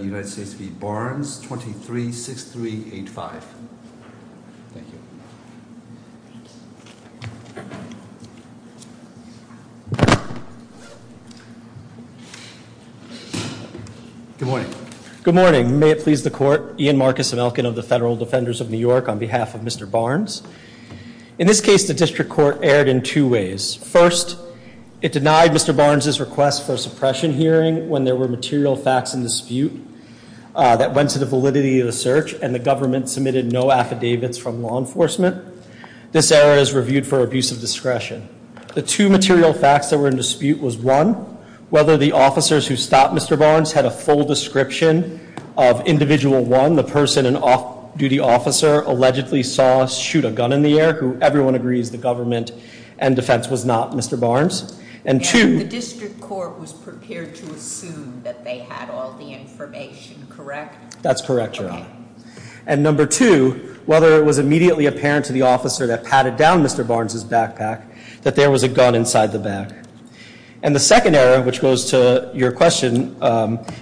23-6385 Good morning. Good morning. May it please the court. Ian Marcus Amelkin of the Federal Defenders of New York on behalf of Mr. Barnes. In this case, the District Court erred in two ways. First, it denied Mr. Barnes' request for a suppression hearing when there were material facts in dispute. That went to the validity of the search, and the government submitted no affidavits from law enforcement. This error is reviewed for abuse of discretion. The two material facts that were in dispute was one, whether the officers who stopped Mr. Barnes had a full description of individual one, the person, an off-duty officer, allegedly saw shoot a gun in the air, who everyone agrees the government and defense was not Mr. Barnes. The District Court was prepared to assume that they had all the information, correct? That's correct, Your Honor. And number two, whether it was immediately apparent to the officer that patted down Mr. Barnes' backpack that there was a gun inside the bag. And the second error, which goes to your question,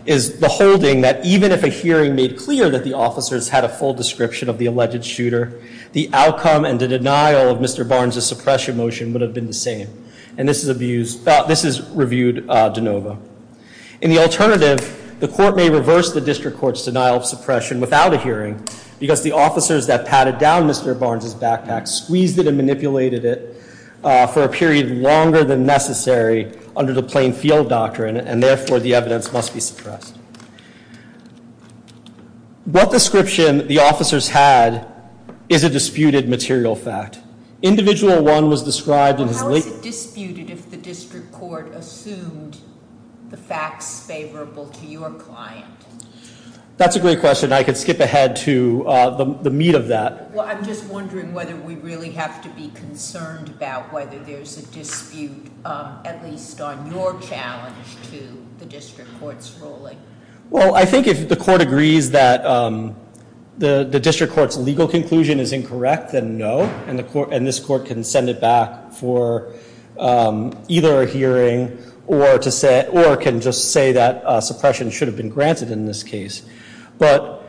is the holding that even if a hearing made clear that the officers had a full description of the alleged shooter, the outcome and the denial of Mr. Barnes' suppression motion would have been the same. And this is abused, this is reviewed de novo. In the alternative, the court may reverse the District Court's denial of suppression without a hearing because the officers that patted down Mr. Barnes' backpack squeezed it and manipulated it for a period longer than necessary under the plain field doctrine, and therefore the evidence must be suppressed. What description the officers had is a disputed material fact? Individual one was described as- How is it disputed if the District Court assumed the facts favorable to your client? That's a great question. I could skip ahead to the meat of that. Well, I'm just wondering whether we really have to be concerned about whether there's a dispute, at least on your challenge to the District Court's ruling. Well, I think if the court agrees that the District Court's legal conclusion is incorrect, then no, and this court can send it back for either a hearing or can just say that suppression should have been granted in this case. But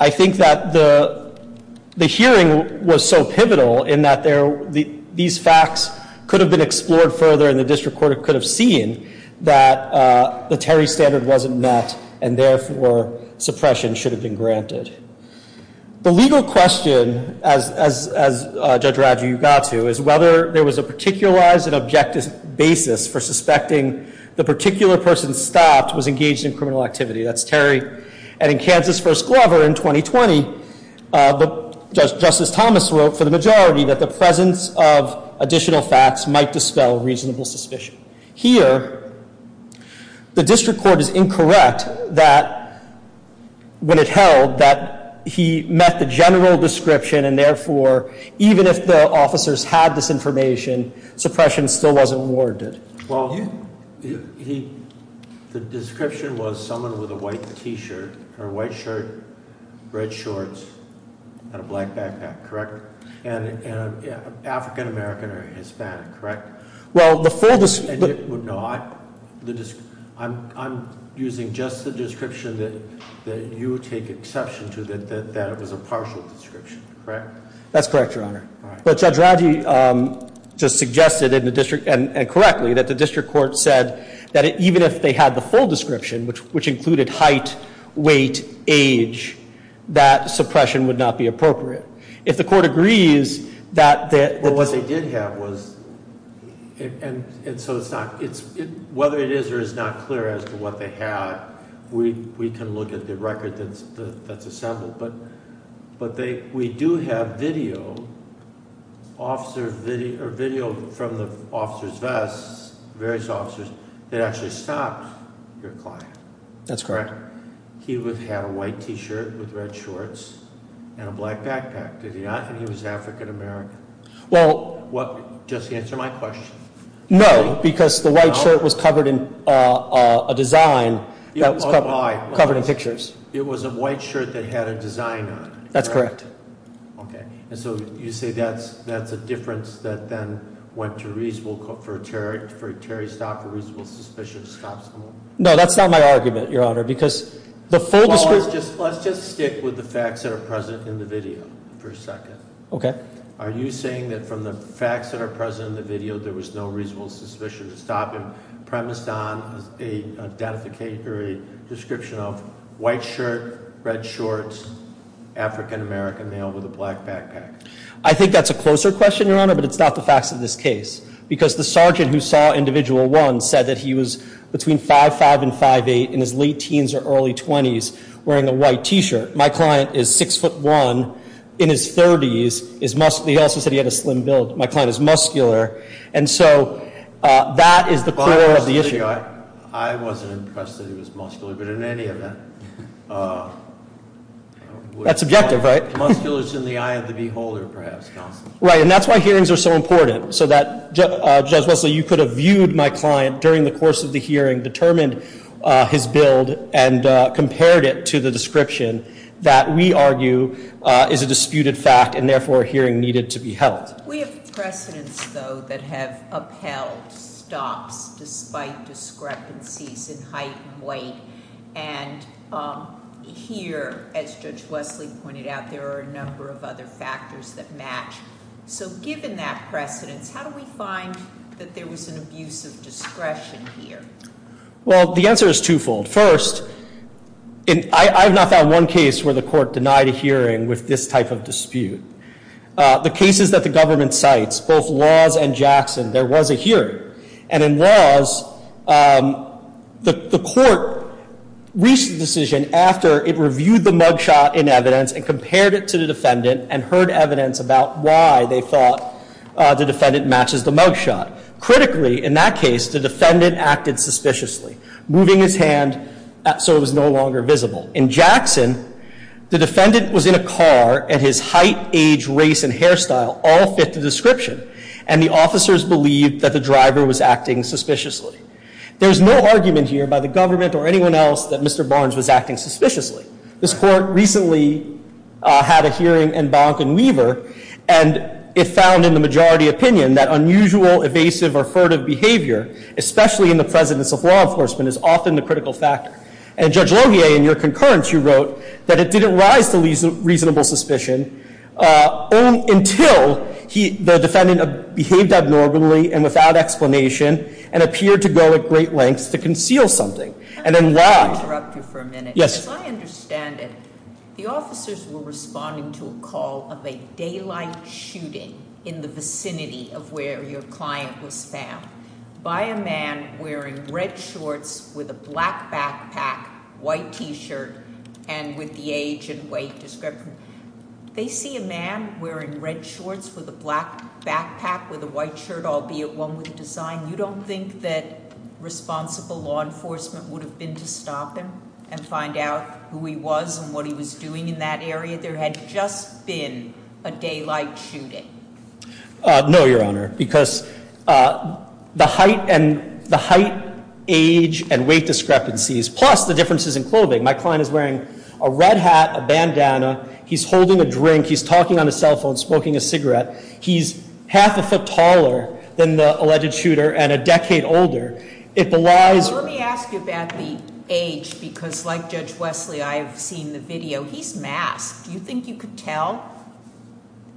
I think that the hearing was so pivotal in that these facts could have been explored further and the District Court could have seen that the Terry standard wasn't met and therefore suppression should have been granted. The legal question, as Judge Raggio, you got to, is whether there was a particularized and objective basis for suspecting the particular person stopped was engaged in criminal activity. That's Terry. And in Kansas v. Glover in 2020, Justice Thomas wrote for the majority that the presence of additional facts might dispel reasonable suspicion. Here, the District Court is incorrect that when it held that he met the general description and therefore even if the officers had this information, suppression still wasn't warranted. Well, the description was someone with a white t-shirt or a white shirt, red shorts, and a black backpack, correct? And African American or Hispanic, correct? Well, the full description- No, I'm using just the description that you take exception to, that it was a partial description, correct? That's correct, Your Honor. But Judge Raggio just suggested, and correctly, that the District Court said that even if they had the full description, which included height, weight, age, that suppression would not be appropriate. If the court agrees that- Well, what they did have was, and so it's not, whether it is or is not clear as to what they had, we can look at the record that's assembled. But we do have video, officer video, or video from the officer's vests, various officers, that actually stopped your client. That's correct. He had a white t-shirt with red shorts and a black backpack, did he not? And he was African American. Well- Just answer my question. No, because the white shirt was covered in a design that was covered in pictures. It was a white shirt that had a design on it. That's correct. Okay. And so you say that's a difference that then went to reasonable, for Terry Stock, a reasonable suspicion to stop someone? No, that's not my argument, Your Honor, because the full description- Well, let's just stick with the facts that are present in the video for a second. Okay. Are you saying that from the facts that are present in the video there was no reasonable suspicion to stop him premised on a description of white shirt, red shorts, African American male with a black backpack? I think that's a closer question, Your Honor, but it's not the facts of this case. Because the sergeant who saw individual one said that he was between 5'5 and 5'8 in his late teens or early 20s wearing a white t-shirt. My client is 6'1 in his 30s. He also said he had a slim build. My client is muscular. And so that is the core of the issue. I wasn't impressed that he was muscular, but in any event- That's objective, right? Muscular is in the eye of the beholder, perhaps, counsel. Right, and that's why hearings are so important, so that, Judge Wesley, you could have viewed my client during the course of the hearing, determined his build, and compared it to the description that we argue is a disputed fact and therefore a hearing needed to be held. We have precedents, though, that have upheld stops despite discrepancies in height and weight. And here, as Judge Wesley pointed out, there are a number of other factors that match. So given that precedence, how do we find that there was an abuse of discretion here? Well, the answer is twofold. First, I have not found one case where the court denied a hearing with this type of dispute. The cases that the government cites, both Laws and Jackson, there was a hearing. And in Laws, the court reached a decision after it reviewed the mugshot in evidence and compared it to the defendant and heard evidence about why they thought the defendant matches the mugshot. Critically, in that case, the defendant acted suspiciously, moving his hand so it was no longer visible. In Jackson, the defendant was in a car, and his height, age, race, and hairstyle all fit the description. And the officers believed that the driver was acting suspiciously. There's no argument here by the government or anyone else that Mr. Barnes was acting suspiciously. This court recently had a hearing in Bonk and Weaver, and it found in the majority opinion that unusual, evasive, or furtive behavior, especially in the precedence of law enforcement, is often the critical factor. And Judge Laugier, in your concurrence, you wrote that it didn't rise to reasonable suspicion until the defendant behaved abnormally and without explanation and appeared to go at great lengths to conceal something. And then why— If I may interrupt you for a minute. Yes. As I understand it, the officers were responding to a call of a daylight shooting in the vicinity of where your client was found by a man wearing red shorts with a black backpack, white T-shirt, and with the age and weight description. They see a man wearing red shorts with a black backpack with a white shirt, albeit one with a design. You don't think that responsible law enforcement would have been to stop him and find out who he was and what he was doing in that area? There had just been a daylight shooting. No, Your Honor, because the height and the height, age, and weight discrepancies, plus the differences in clothing. My client is wearing a red hat, a bandana. He's holding a drink. He's talking on his cell phone, smoking a cigarette. He's half a foot taller than the alleged shooter and a decade older. If the lies— Let me ask you about the age, because like Judge Wesley, I have seen the video. He's masked. Do you think you could tell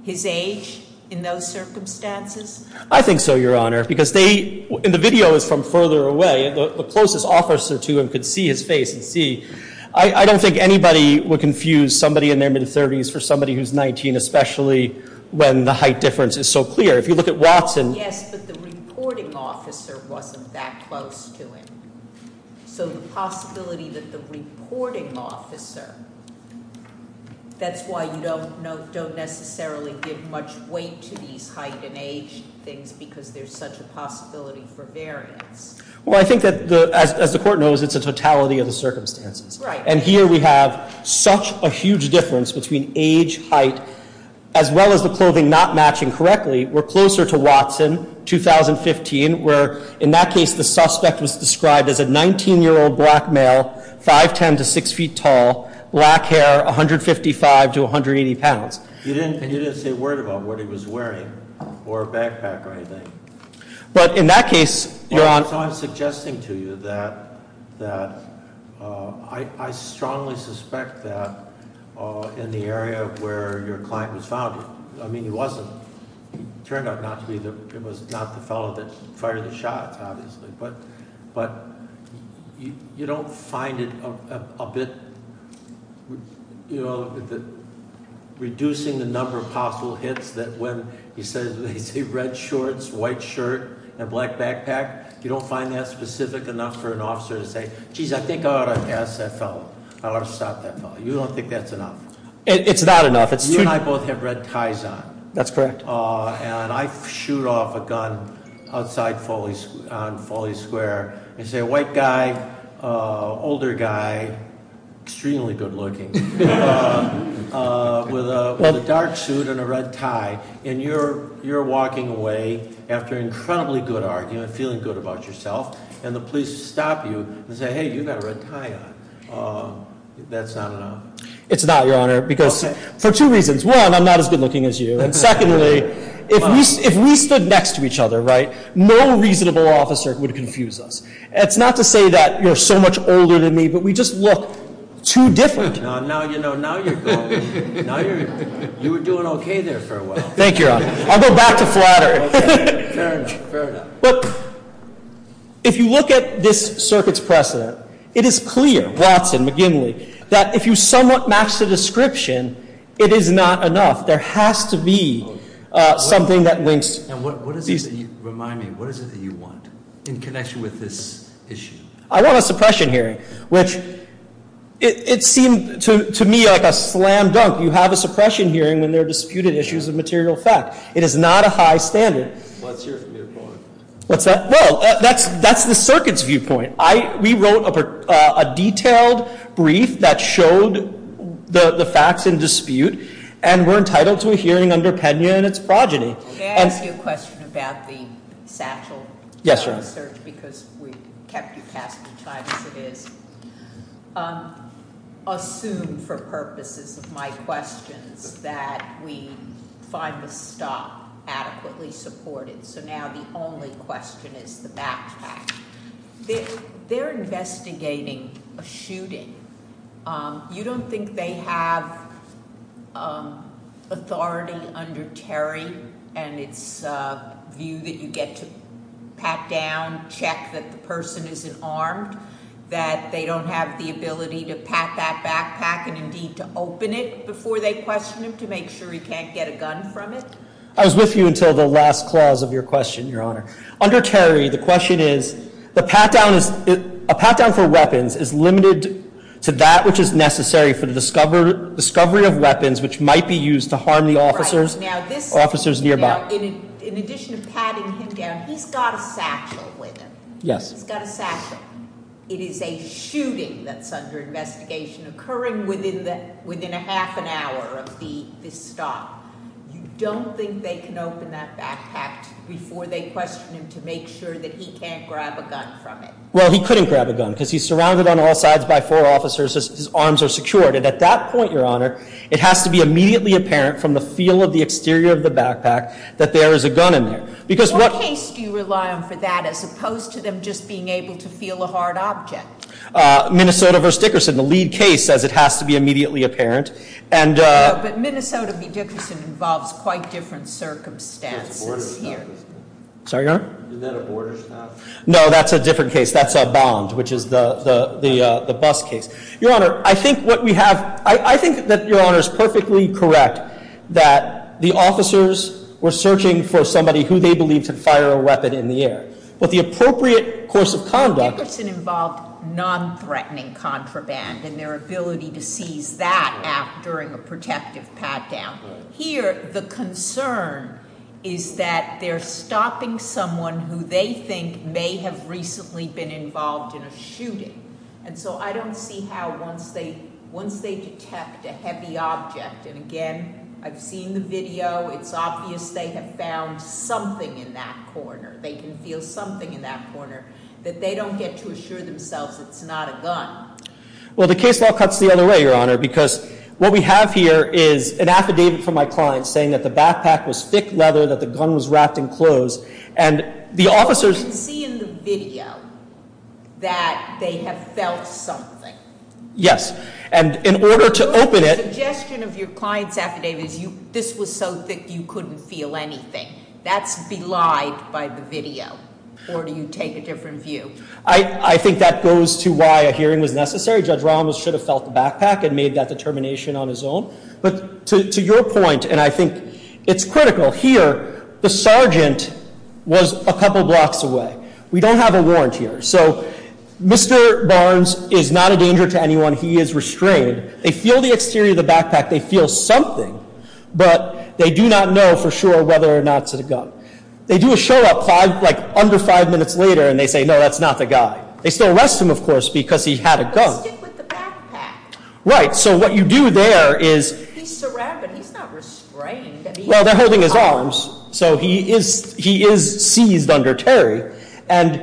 his age in those circumstances? I think so, Your Honor, because they—and the video is from further away. The closest officer to him could see his face and see. I don't think anybody would confuse somebody in their mid-30s for somebody who's 19, especially when the height difference is so clear. If you look at Watson— Yes, but the reporting officer wasn't that close to him. So the possibility that the reporting officer—that's why you don't necessarily give much weight to these height and age things because there's such a possibility for variance. Well, I think that, as the court knows, it's a totality of the circumstances. And here we have such a huge difference between age, height, as well as the clothing not matching correctly. We're closer to Watson, 2015, where in that case the suspect was described as a 19-year-old black male, 5'10 to 6 feet tall, black hair, 155 to 180 pounds. You didn't say a word about what he was wearing or backpack or anything. But in that case, you're on— So I'm suggesting to you that—I strongly suspect that in the area where your client was found, I mean, he wasn't—he turned out not to be the—he was not the fellow that fired the shots, obviously. But you don't find it a bit—reducing the number of possible hits that when you say red shorts, white shirt, and black backpack, you don't find that specific enough for an officer to say, geez, I think I ought to ask that fellow. I ought to stop that fellow. You don't think that's enough? It's not enough. You and I both have red ties on. That's correct. And I shoot off a gun outside on Foley Square and say, white guy, older guy, extremely good looking, with a dark suit and a red tie. And you're walking away after an incredibly good argument, feeling good about yourself, and the police stop you and say, hey, you've got a red tie on. That's not enough? It's not, Your Honor, because— Okay. And secondly, if we stood next to each other, right, no reasonable officer would confuse us. It's not to say that you're so much older than me, but we just look too different. Now, you know, now you're going. Now you're—you were doing okay there for a while. Thank you, Your Honor. I'll go back to flattery. Fair enough. Fair enough. If you look at this circuit's precedent, it is clear, Watson, McGinley, that if you somewhat match the description, it is not enough. There has to be something that links— And what is it that you—remind me, what is it that you want in connection with this issue? I want a suppression hearing, which it seemed to me like a slam dunk. You have a suppression hearing when there are disputed issues of material fact. It is not a high standard. What's your viewpoint? What's that? Well, that's the circuit's viewpoint. We wrote a detailed brief that showed the facts in dispute, and we're entitled to a hearing under Pena and its progeny. May I ask you a question about the satchel? Yes, Your Honor. Thank you for your research, because we kept you past your time as it is. Assume, for purposes of my questions, that we find the stock adequately supported. So now the only question is the backpack. They're investigating a shooting. You don't think they have authority under Terry and its view that you get to pat down, check that the person isn't armed, that they don't have the ability to pat that backpack and indeed to open it before they question him to make sure he can't get a gun from it? I was with you until the last clause of your question, Your Honor. Under Terry, the question is, a pat down for weapons is limited to that which is necessary for the discovery of weapons which might be used to harm the officers or officers nearby. Now, in addition to patting him down, he's got a satchel with him. Yes. He's got a satchel. It is a shooting that's under investigation occurring within a half an hour of this stop. You don't think they can open that backpack before they question him to make sure that he can't grab a gun from it? Well, he couldn't grab a gun because he's surrounded on all sides by four officers. His arms are secured. And at that point, Your Honor, it has to be immediately apparent from the feel of the exterior of the backpack that there is a gun in there. What case do you rely on for that as opposed to them just being able to feel a hard object? Minnesota v. Dickerson. The lead case says it has to be immediately apparent. But Minnesota v. Dickerson involves quite different circumstances here. Sorry, Your Honor? Isn't that a border stop? No, that's a different case. That's a bond, which is the bus case. Your Honor, I think that Your Honor is perfectly correct that the officers were searching for somebody who they believed could fire a weapon in the air. But the appropriate course of conduct- Here, the concern is that they're stopping someone who they think may have recently been involved in a shooting. And so I don't see how once they detect a heavy object- And, again, I've seen the video. It's obvious they have found something in that corner. They can feel something in that corner that they don't get to assure themselves it's not a gun. Well, the case law cuts the other way, Your Honor, because what we have here is an affidavit from my client saying that the backpack was thick leather, that the gun was wrapped in clothes. And the officers- You can see in the video that they have felt something. Yes. And in order to open it- The suggestion of your client's affidavit is this was so thick you couldn't feel anything. That's belied by the video. Or do you take a different view? I think that goes to why a hearing was necessary. Judge Ramos should have felt the backpack and made that determination on his own. But to your point, and I think it's critical, here the sergeant was a couple blocks away. We don't have a warrant here. So Mr. Barnes is not a danger to anyone. He is restrained. They feel the exterior of the backpack. They feel something. But they do not know for sure whether or not it's a gun. They do a show up like under five minutes later and they say, no, that's not the guy. They still arrest him, of course, because he had a gun. But stick with the backpack. Right. So what you do there is- He's surrounded. He's not restrained. Well, they're holding his arms. So he is seized under Terry. And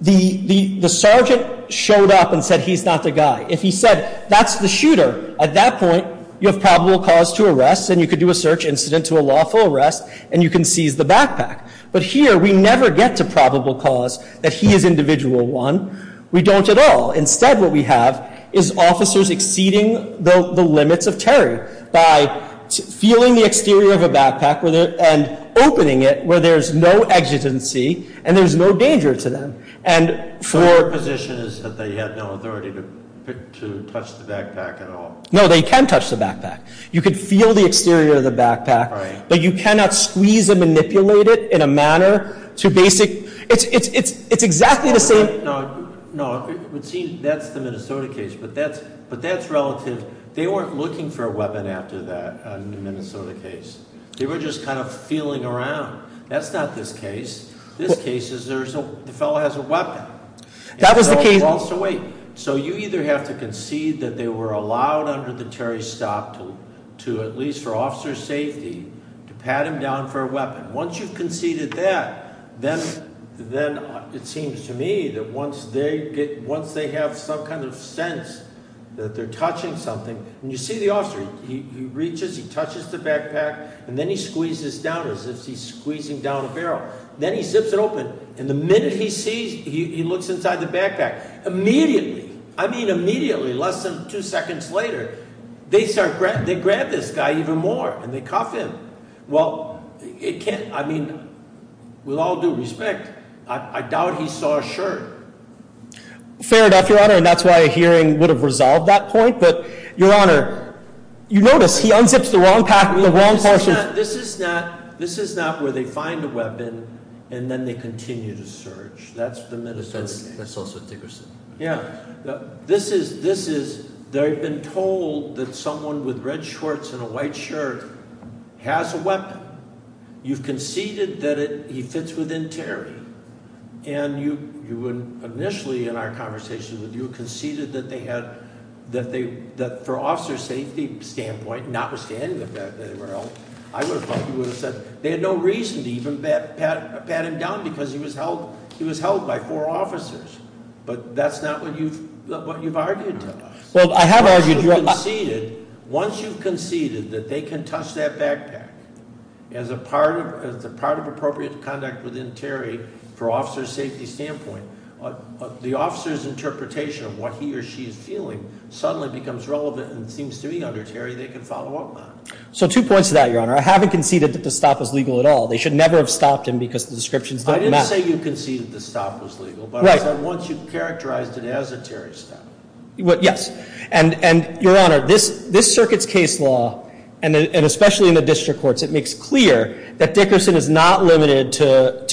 the sergeant showed up and said he's not the guy. If he said that's the shooter, at that point you have probable cause to arrest. And you could do a search incident to a lawful arrest and you can seize the backpack. But here we never get to probable cause that he is individual one. We don't at all. Instead what we have is officers exceeding the limits of Terry by feeling the exterior of a backpack and opening it where there's no exigency and there's no danger to them. And for- Your position is that they had no authority to touch the backpack at all. No, they can touch the backpack. You can feel the exterior of the backpack. Right. But you cannot squeeze and manipulate it in a manner to basic- It's exactly the same- No, it would seem that's the Minnesota case. But that's relative. They weren't looking for a weapon after that in the Minnesota case. They were just kind of feeling around. That's not this case. This case is the fellow has a weapon. That was the case- So you either have to concede that they were allowed under the Terry stop to, at least for officer's safety, to pat him down for a weapon. Once you've conceded that, then it seems to me that once they have some kind of sense that they're touching something, when you see the officer, he reaches, he touches the backpack, and then he squeezes down as if he's squeezing down a barrel. Then he zips it open. And the minute he sees, he looks inside the backpack. Immediately, I mean immediately, less than two seconds later, they start, they grab this guy even more, and they cuff him. Well, it can't, I mean, with all due respect, I doubt he saw a shirt. Fair enough, Your Honor, and that's why a hearing would have resolved that point. But, Your Honor, you notice he unzips the wrong part of- This is not where they find a weapon, and then they continue to search. That's the Minnesota case. That's also Thickerson. Yeah. This is, they've been told that someone with red shorts and a white shirt has a weapon. You've conceded that he fits within Terry. And you initially, in our conversation with you, conceded that they had, that for officer's safety standpoint, notwithstanding that they were held, I would have thought you would have said they had no reason to even pat him down because he was held by four officers. But that's not what you've argued to us. Well, I have argued- Once you've conceded that they can touch that backpack, as a part of appropriate conduct within Terry for officer's safety standpoint, the officer's interpretation of what he or she is feeling suddenly becomes relevant and seems to be under Terry. They can follow up on it. So two points to that, Your Honor. I haven't conceded that the stop was legal at all. They should never have stopped him because the descriptions don't match. I didn't say you conceded the stop was legal, but I said once you've characterized it as a Terry stop. Yes. And, Your Honor, this circuit's case law, and especially in the district courts, it makes clear that Dickerson is not limited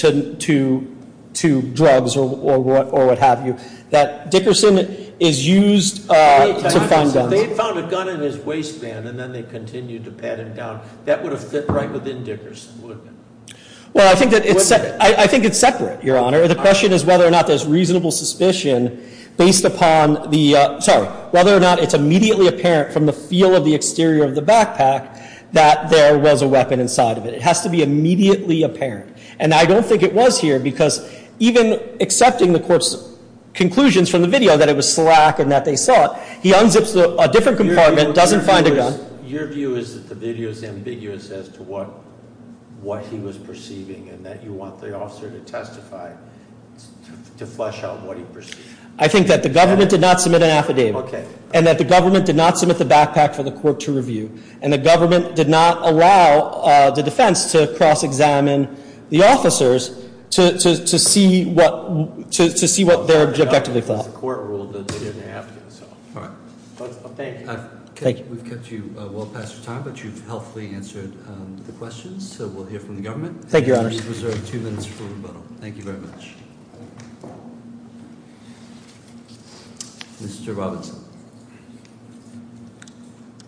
to drugs or what have you. That Dickerson is used to find guns. If they found a gun in his waistband and then they continued to pat him down, that would have fit right within Dickerson, wouldn't it? Well, I think it's separate, Your Honor. The question is whether or not there's reasonable suspicion based upon the, sorry, whether or not it's immediately apparent from the feel of the exterior of the backpack that there was a weapon inside of it. It has to be immediately apparent. And I don't think it was here because even accepting the court's conclusions from the video that it was slack and that they saw it, he unzips a different compartment, doesn't find a gun. Your view is that the video is ambiguous as to what he was perceiving and that you want the officer to testify to flesh out what he perceived. I think that the government did not submit an affidavit. Okay. And that the government did not submit the backpack for the court to review. And the government did not allow the defense to cross-examine the officers to see what they objectively thought. The court ruled that they didn't have to. All right. Thank you. We've kept you well past your time, but you've helpfully answered the questions, so we'll hear from the government. Thank you, Your Honor. Please reserve two minutes for rebuttal. Thank you very much. Mr. Robinson.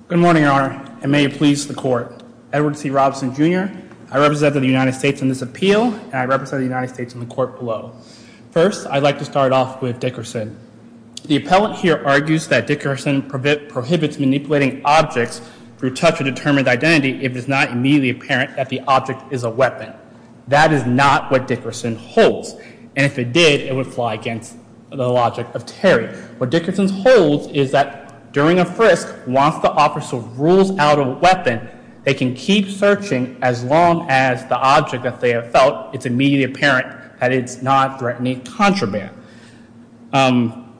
Good morning, Your Honor, and may it please the court. Edward C. Robinson, Jr., I represent the United States in this appeal, and I represent the United States in the court below. First, I'd like to start off with Dickerson. The appellant here argues that Dickerson prohibits manipulating objects through touch of determined identity if it is not immediately apparent that the object is a weapon. That is not what Dickerson holds, and if it did, it would fly against the logic of Terry. What Dickerson holds is that during a frisk, once the officer rules out a weapon, they can keep searching as long as the object that they have felt is immediately apparent that it's not threatening contraband. And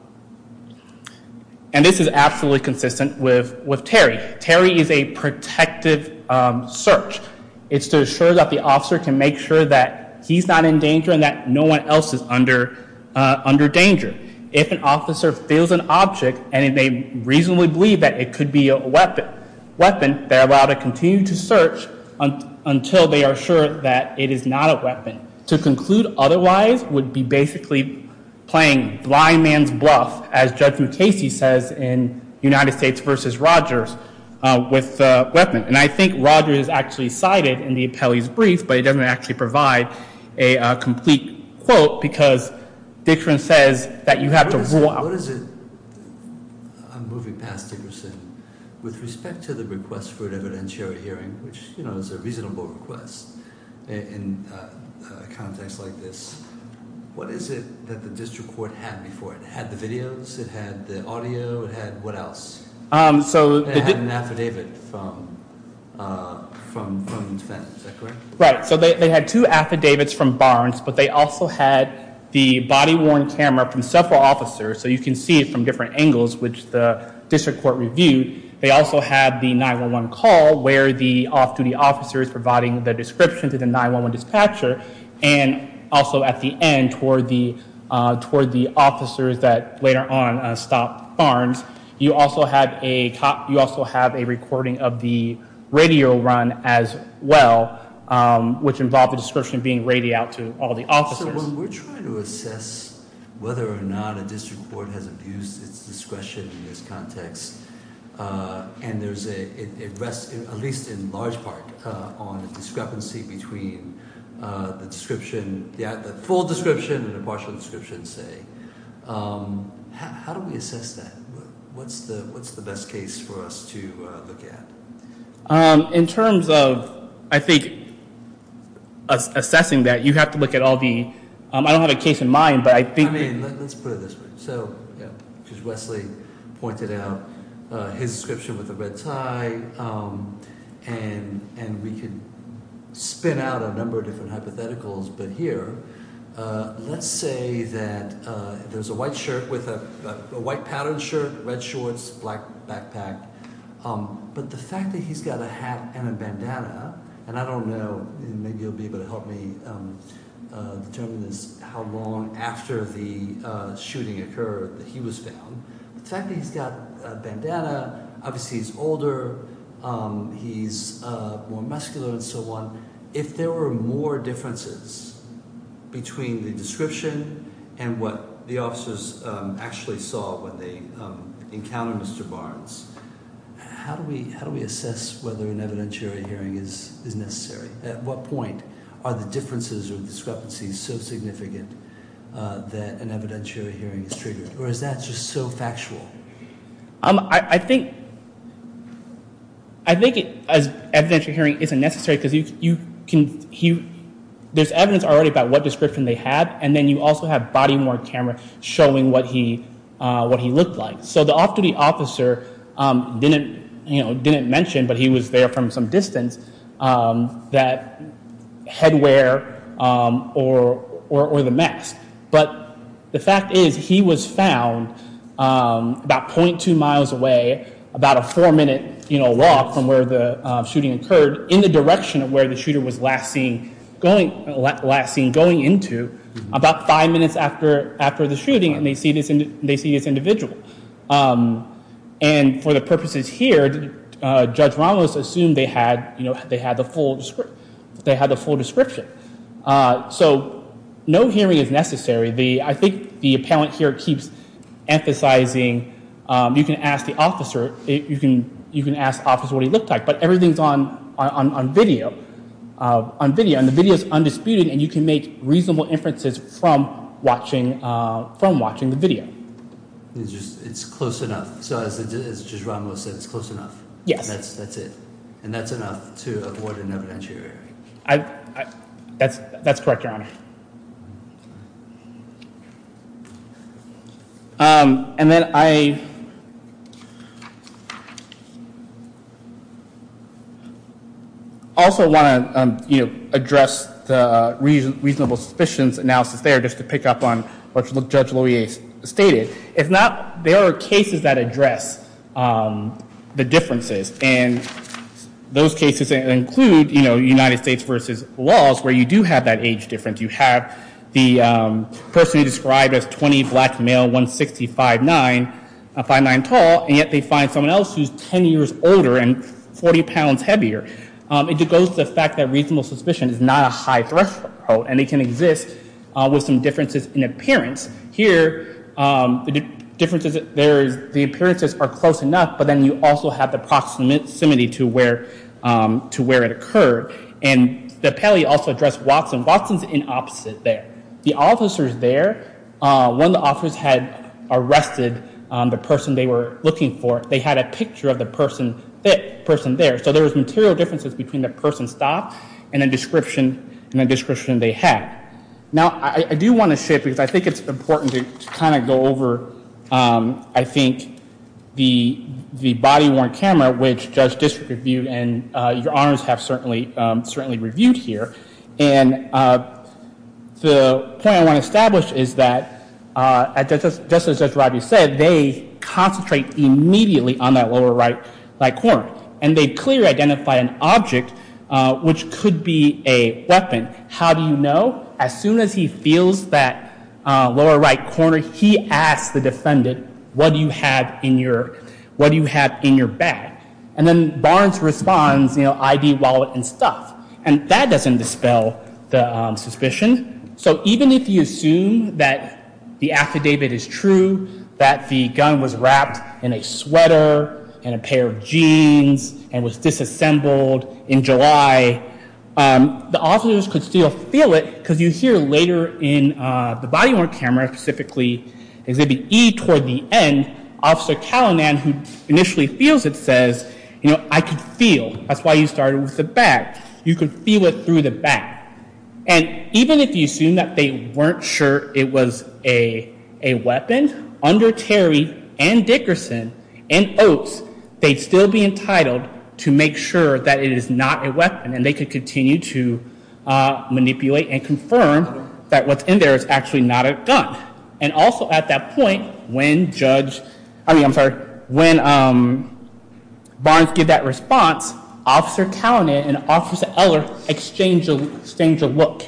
this is absolutely consistent with Terry. Terry is a protective search. It's to assure that the officer can make sure that he's not in danger and that no one else is under danger. If an officer feels an object and they reasonably believe that it could be a weapon, they're allowed to continue to search until they are sure that it is not a weapon. To conclude otherwise would be basically playing blind man's bluff, as Judge McCasey says in United States v. Rogers, with a weapon. And I think Rogers is actually cited in the appellee's brief, but he doesn't actually provide a complete quote because Dickerson says that you have to rule out. What is it? I'm moving past Dickerson. With respect to the request for an evidentiary hearing, which is a reasonable request in a context like this, what is it that the district court had before it? It had the videos, it had the audio, it had what else? It had an affidavit from defense, is that correct? Right. So they had two affidavits from Barnes, but they also had the body-worn camera from several officers, so you can see it from different angles, which the district court reviewed. They also had the 911 call where the off-duty officer is providing the description to the 911 dispatcher, and also at the end toward the officers that later on stopped Barnes. You also have a recording of the radio run as well, which involved the description being radioed out to all the officers. So when we're trying to assess whether or not a district court has abused its discretion in this context, and it rests at least in large part on a discrepancy between the description, the full description and a partial description, say, how do we assess that? What's the best case for us to look at? In terms of, I think, assessing that, you have to look at all the—I don't have a case in mind, but I think— I mean, let's put it this way. So as Wesley pointed out, his description with the red tie, and we could spin out a number of different hypotheticals, but here, let's say that there's a white shirt with a white patterned shirt, red shorts, black backpack, but the fact that he's got a hat and a bandana, and I don't know, maybe you'll be able to help me determine this, how long after the shooting occurred that he was found. The fact that he's got a bandana, obviously he's older, he's more muscular and so on. If there were more differences between the description and what the officers actually saw when they encountered Mr. Barnes, how do we assess whether an evidentiary hearing is necessary? At what point are the differences or discrepancies so significant that an evidentiary hearing is triggered, or is that just so factual? I think an evidentiary hearing isn't necessary because there's evidence already about what description they had, and then you also have body-worn camera showing what he looked like. So the off-duty officer didn't mention, but he was there from some distance, that headwear or the mask. But the fact is he was found about .2 miles away, about a four-minute walk from where the shooting occurred, in the direction of where the shooter was last seen going into about five minutes after the shooting, and they see this individual. And for the purposes here, Judge Ramos assumed they had the full description. So no hearing is necessary. I think the appellant here keeps emphasizing you can ask the officer what he looked like, but everything's on video, and the video's undisputed, and you can make reasonable inferences from watching the video. It's close enough. So as Judge Ramos said, it's close enough. Yes. That's it. And that's enough to avoid an evidentiary. That's correct, Your Honor. And then I also want to address the reasonable suspicions analysis there, just to pick up on what Judge Loewe stated. If not, there are cases that address the differences, and those cases include, you know, United States versus laws, where you do have that age difference. You have the person described as 20, black, male, 160, 5'9", 5'9", tall, and yet they find someone else who's 10 years older and 40 pounds heavier. It goes to the fact that reasonable suspicion is not a high-threshold, and it can exist with some differences in appearance. Here, the differences there is the appearances are close enough, but then you also have the proximity to where it occurred. And the appellee also addressed Watson. Watson's in opposite there. The officers there, when the officers had arrested the person they were looking for, they had a picture of the person there. So there was material differences between the person's staff and the description they had. Now, I do want to shift, because I think it's important to kind of go over, I think, the body-worn camera, which Judge District Review and your Honors have certainly reviewed here. And the point I want to establish is that, just as Judge Rodney said, they concentrate immediately on that lower right-hand corner, and they clearly identify an object which could be a weapon. How do you know? As soon as he feels that lower right corner, he asks the defendant, what do you have in your bag? And then Barnes responds, you know, ID, wallet, and stuff. And that doesn't dispel the suspicion. So even if you assume that the affidavit is true, that the gun was wrapped in a sweater, in a pair of jeans, and was disassembled in July, the officers could still feel it, because you hear later in the body-worn camera, specifically Exhibit E toward the end, Officer Callanan, who initially feels it, says, you know, I could feel. That's why you started with the bag. You could feel it through the back. And even if you assume that they weren't sure it was a weapon, under Terry and Dickerson and Oates, they'd still be entitled to make sure that it is not a weapon, and they could continue to manipulate and confirm that what's in there is actually not a gun. And also at that point, when Barnes gives that response, Officer Callanan and Officer Eller exchange a look.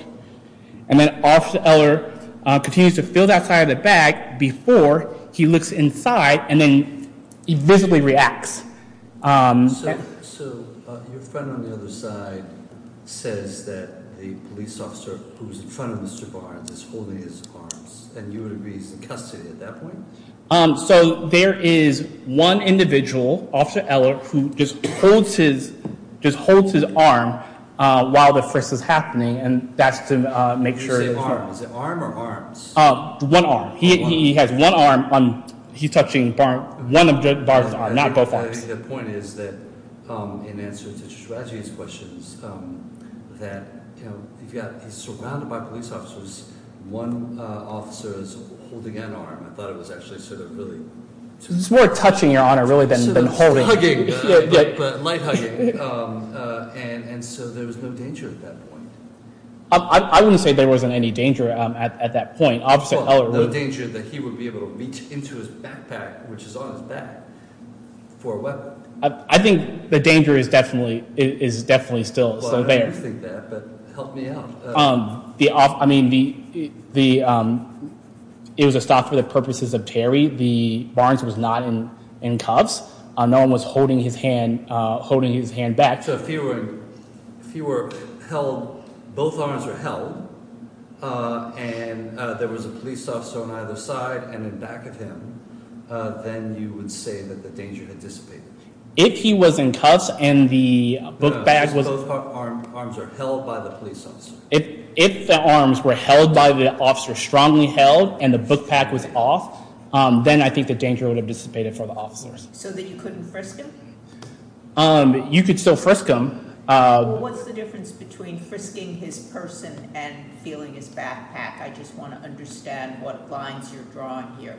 And then Officer Eller continues to feel that side of the bag before he looks inside and then he visibly reacts. So your friend on the other side says that the police officer who's in front of Mr. Barnes is holding his arms, and you would agree he's in custody at that point? So there is one individual, Officer Eller, who just holds his arm while the frisk is happening, and that's to make sure that he's not- Did you say arm? Is it arm or arms? One arm. He has one arm. He's touching one of Barnes' arms, not both arms. I think the point is that in answer to your strategy questions, that he's surrounded by police officers, one officer is holding an arm. I thought it was actually sort of really- It's more touching, Your Honor, really, than holding. Sort of hugging, but light hugging. And so there was no danger at that point. I wouldn't say there wasn't any danger at that point. The danger that he would be able to reach into his backpack, which is on his back, for a weapon. I think the danger is definitely still there. I do think that, but help me out. I mean, it was a stop for the purposes of Terry. Barnes was not in cuffs. No one was holding his hand back. So if he were held, both arms were held, and there was a police officer on either side and in back of him, then you would say that the danger had dissipated. If he was in cuffs and the book bag was- Both arms are held by the police officer. If the arms were held by the officer, strongly held, and the book bag was off, then I think the danger would have dissipated for the officers. So then you couldn't first kill him? You could still frisk him. What's the difference between frisking his person and feeling his backpack? I just want to understand what lines you're drawing here.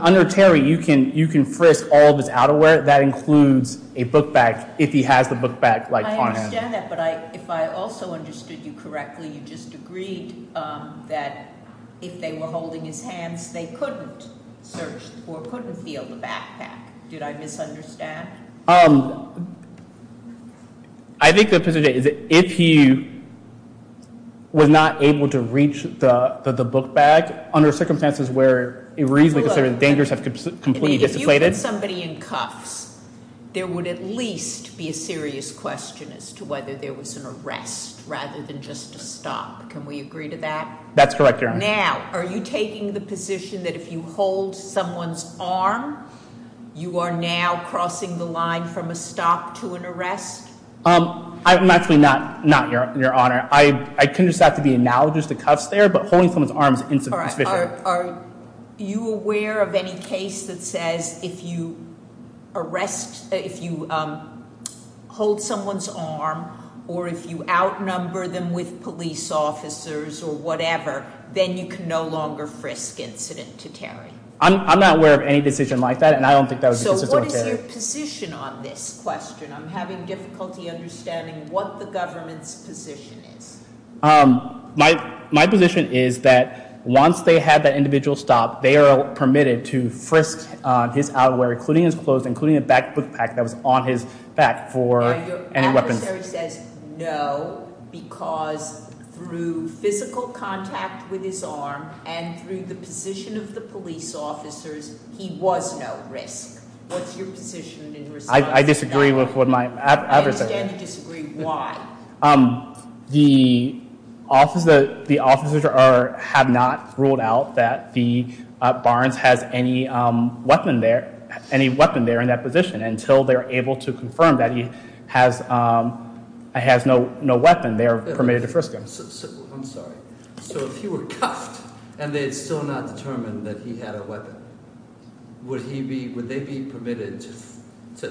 Under Terry, you can frisk all of his outerwear. That includes a book bag, if he has the book bag on him. I understand that, but if I also understood you correctly, you just agreed that if they were holding his hands, they couldn't search or couldn't feel the backpack. Did I misunderstand? I think the position is that if he was not able to reach the book bag, under circumstances where it reasonably considered dangerous, have completely dissipated- If you put somebody in cuffs, there would at least be a serious question as to whether there was an arrest rather than just a stop. Can we agree to that? That's correct, Your Honor. Now, are you taking the position that if you hold someone's arm, you are now crossing the line from a stop to an arrest? I'm actually not, Your Honor. I couldn't decide to be analogous to cuffs there, but holding someone's arm is insufficient. Are you aware of any case that says if you arrest, if you hold someone's arm or if you outnumber them with police officers or whatever, then you can no longer frisk incident to Terry? I'm not aware of any decision like that, and I don't think that would be consistent with Terry. So what is your position on this question? I'm having difficulty understanding what the government's position is. My position is that once they have that individual stop, they are permitted to frisk his outwear, including his clothes, including the back book bag that was on his back for any weapons. The adversary says no because through physical contact with his arm and through the position of the police officers, he was no risk. What's your position in response to that? I disagree with what my adversary said. I understand you disagree. Why? The officers have not ruled out that Barnes has any weapon there in that position until they're able to confirm that he has no weapon there permitted to frisk him. I'm sorry. So if he were cuffed and they had still not determined that he had a weapon, would they be permitted to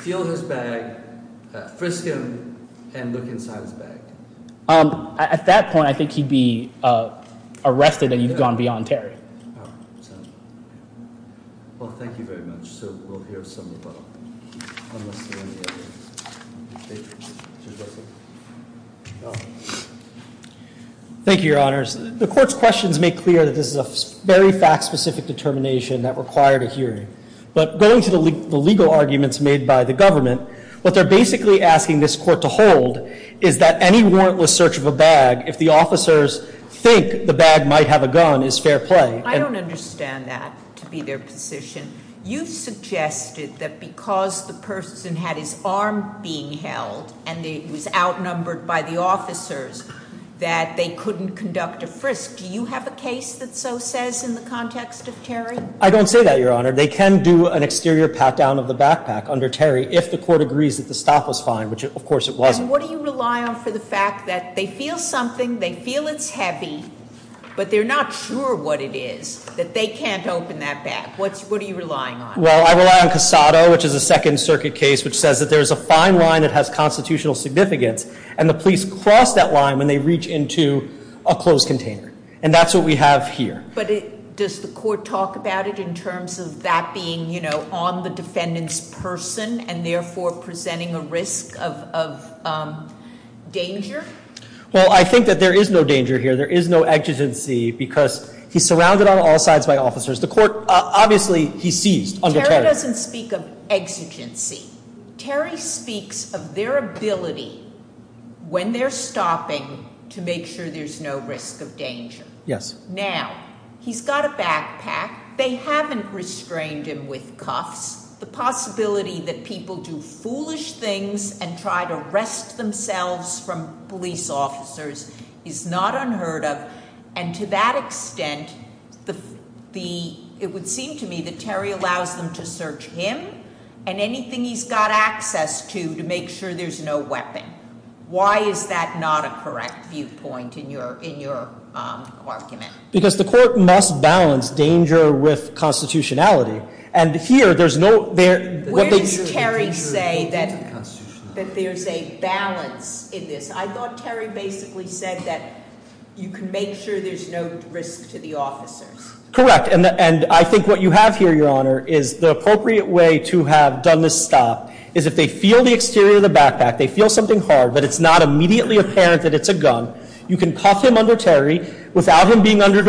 feel his bag, frisk him, and look inside his bag? At that point, I think he'd be arrested and he'd gone beyond Terry. Well, thank you very much. So we'll hear some of that. Thank you, Your Honors. The Court's questions make clear that this is a very fact-specific determination that required a hearing. But going to the legal arguments made by the government, what they're basically asking this Court to hold is that any warrantless search of a bag, if the officers think the bag might have a gun, is fair play. I don't understand that to be their position. You suggested that because the person had his arm being held and it was outnumbered by the officers that they couldn't conduct a frisk. Do you have a case that so says in the context of Terry? I don't say that, Your Honor. They can do an exterior pat-down of the backpack under Terry if the Court agrees that the stop was fine, which of course it wasn't. And what do you rely on for the fact that they feel something, they feel it's heavy, but they're not sure what it is, that they can't open that bag? What are you relying on? Well, I rely on Casado, which is a Second Circuit case, which says that there's a fine line that has constitutional significance, and the police cross that line when they reach into a closed container. And that's what we have here. But does the Court talk about it in terms of that being on the defendant's person and therefore presenting a risk of danger? Well, I think that there is no danger here. There is no exigency because he's surrounded on all sides by officers. The Court, obviously, he seized under Terry. Terry doesn't speak of exigency. Terry speaks of their ability when they're stopping to make sure there's no risk of danger. Yes. Now, he's got a backpack. They haven't restrained him with cuffs. The possibility that people do foolish things and try to arrest themselves from police officers is not unheard of. And to that extent, it would seem to me that Terry allows them to search him and anything he's got access to to make sure there's no weapon. Why is that not a correct viewpoint in your argument? Because the Court must balance danger with constitutionality. And here, there's no- Where does Terry say that there's a balance in this? I thought Terry basically said that you can make sure there's no risk to the officers. Correct. And I think what you have here, Your Honor, is the appropriate way to have done this stop is if they feel the exterior of the backpack, they feel something hard, but it's not immediately apparent that it's a gun, you can cuff him under Terry without him being under-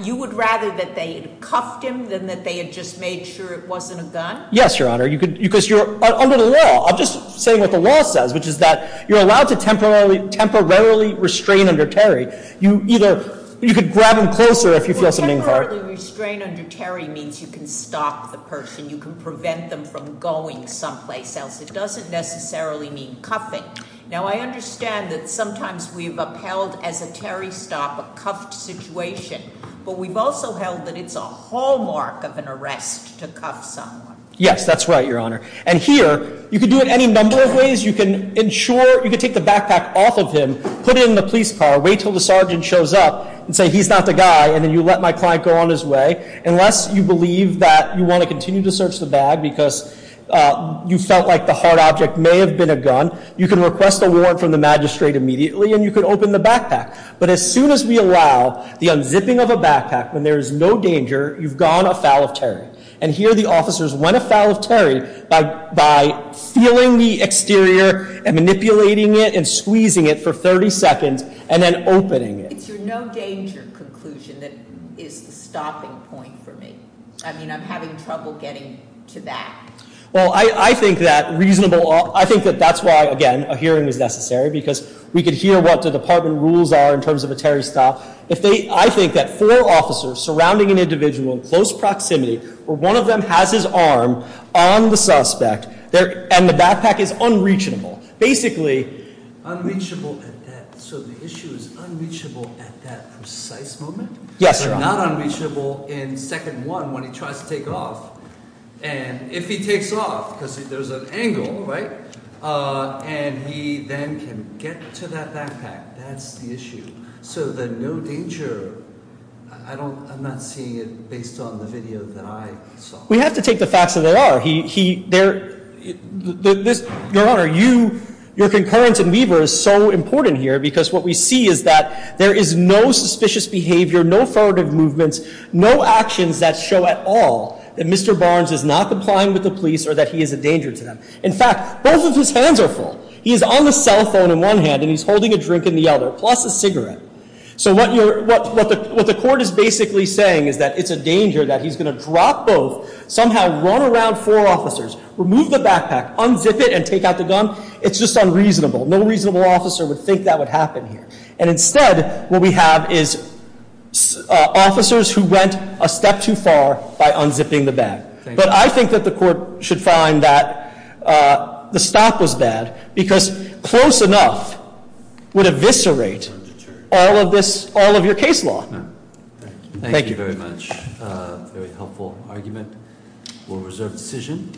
You would rather that they had cuffed him than that they had just made sure it wasn't a gun? Yes, Your Honor, because you're under the law. I'm just saying what the law says, which is that you're allowed to temporarily restrain under Terry. You could grab him closer if you feel something hard. Temporarily restrain under Terry means you can stop the person. You can prevent them from going someplace else. It doesn't necessarily mean cuffing. Now, I understand that sometimes we've upheld as a Terry stop a cuffed situation, but we've also held that it's a hallmark of an arrest to cuff someone. Yes, that's right, Your Honor. And here, you can do it any number of ways. You can take the backpack off of him, put it in the police car, wait until the sergeant shows up, and say, he's not the guy, and then you let my client go on his way. Unless you believe that you want to continue to search the bag because you felt like the hard object may have been a gun, you can request a warrant from the magistrate immediately and you can open the backpack. But as soon as we allow the unzipping of a backpack when there is no danger, you've gone afoul of Terry. And here the officers went afoul of Terry by feeling the exterior and manipulating it and squeezing it for 30 seconds and then opening it. It's your no danger conclusion that is the stopping point for me. I mean, I'm having trouble getting to that. Well, I think that's why, again, a hearing is necessary because we could hear what the department rules are in terms of a Terry stop. I think that four officers surrounding an individual in close proximity, or one of them has his arm on the suspect, and the backpack is unreachable. Unreachable at that, so the issue is unreachable at that precise moment? Yes, Your Honor. Not unreachable in second one when he tries to take off. And if he takes off, because there's an angle, right? And he then can get to that backpack. That's the issue. So the no danger, I'm not seeing it based on the video that I saw. We have to take the facts as they are. Your Honor, your concurrence in Weber is so important here because what we see is that there is no suspicious behavior, no furtive movements, no actions that show at all that Mr. Barnes is not complying with the police or that he is a danger to them. In fact, both of his hands are full. He is on the cell phone in one hand and he's holding a drink in the other, plus a cigarette. So what the court is basically saying is that it's a danger that he's going to drop both, somehow run around four officers, remove the backpack, unzip it, and take out the gun. It's just unreasonable. No reasonable officer would think that would happen here. And instead, what we have is officers who went a step too far by unzipping the bag. But I think that the court should find that the stop was bad because close enough would eviscerate all of this, all of your case law. Thank you. Thank you very much. Very helpful argument. We'll reserve decision.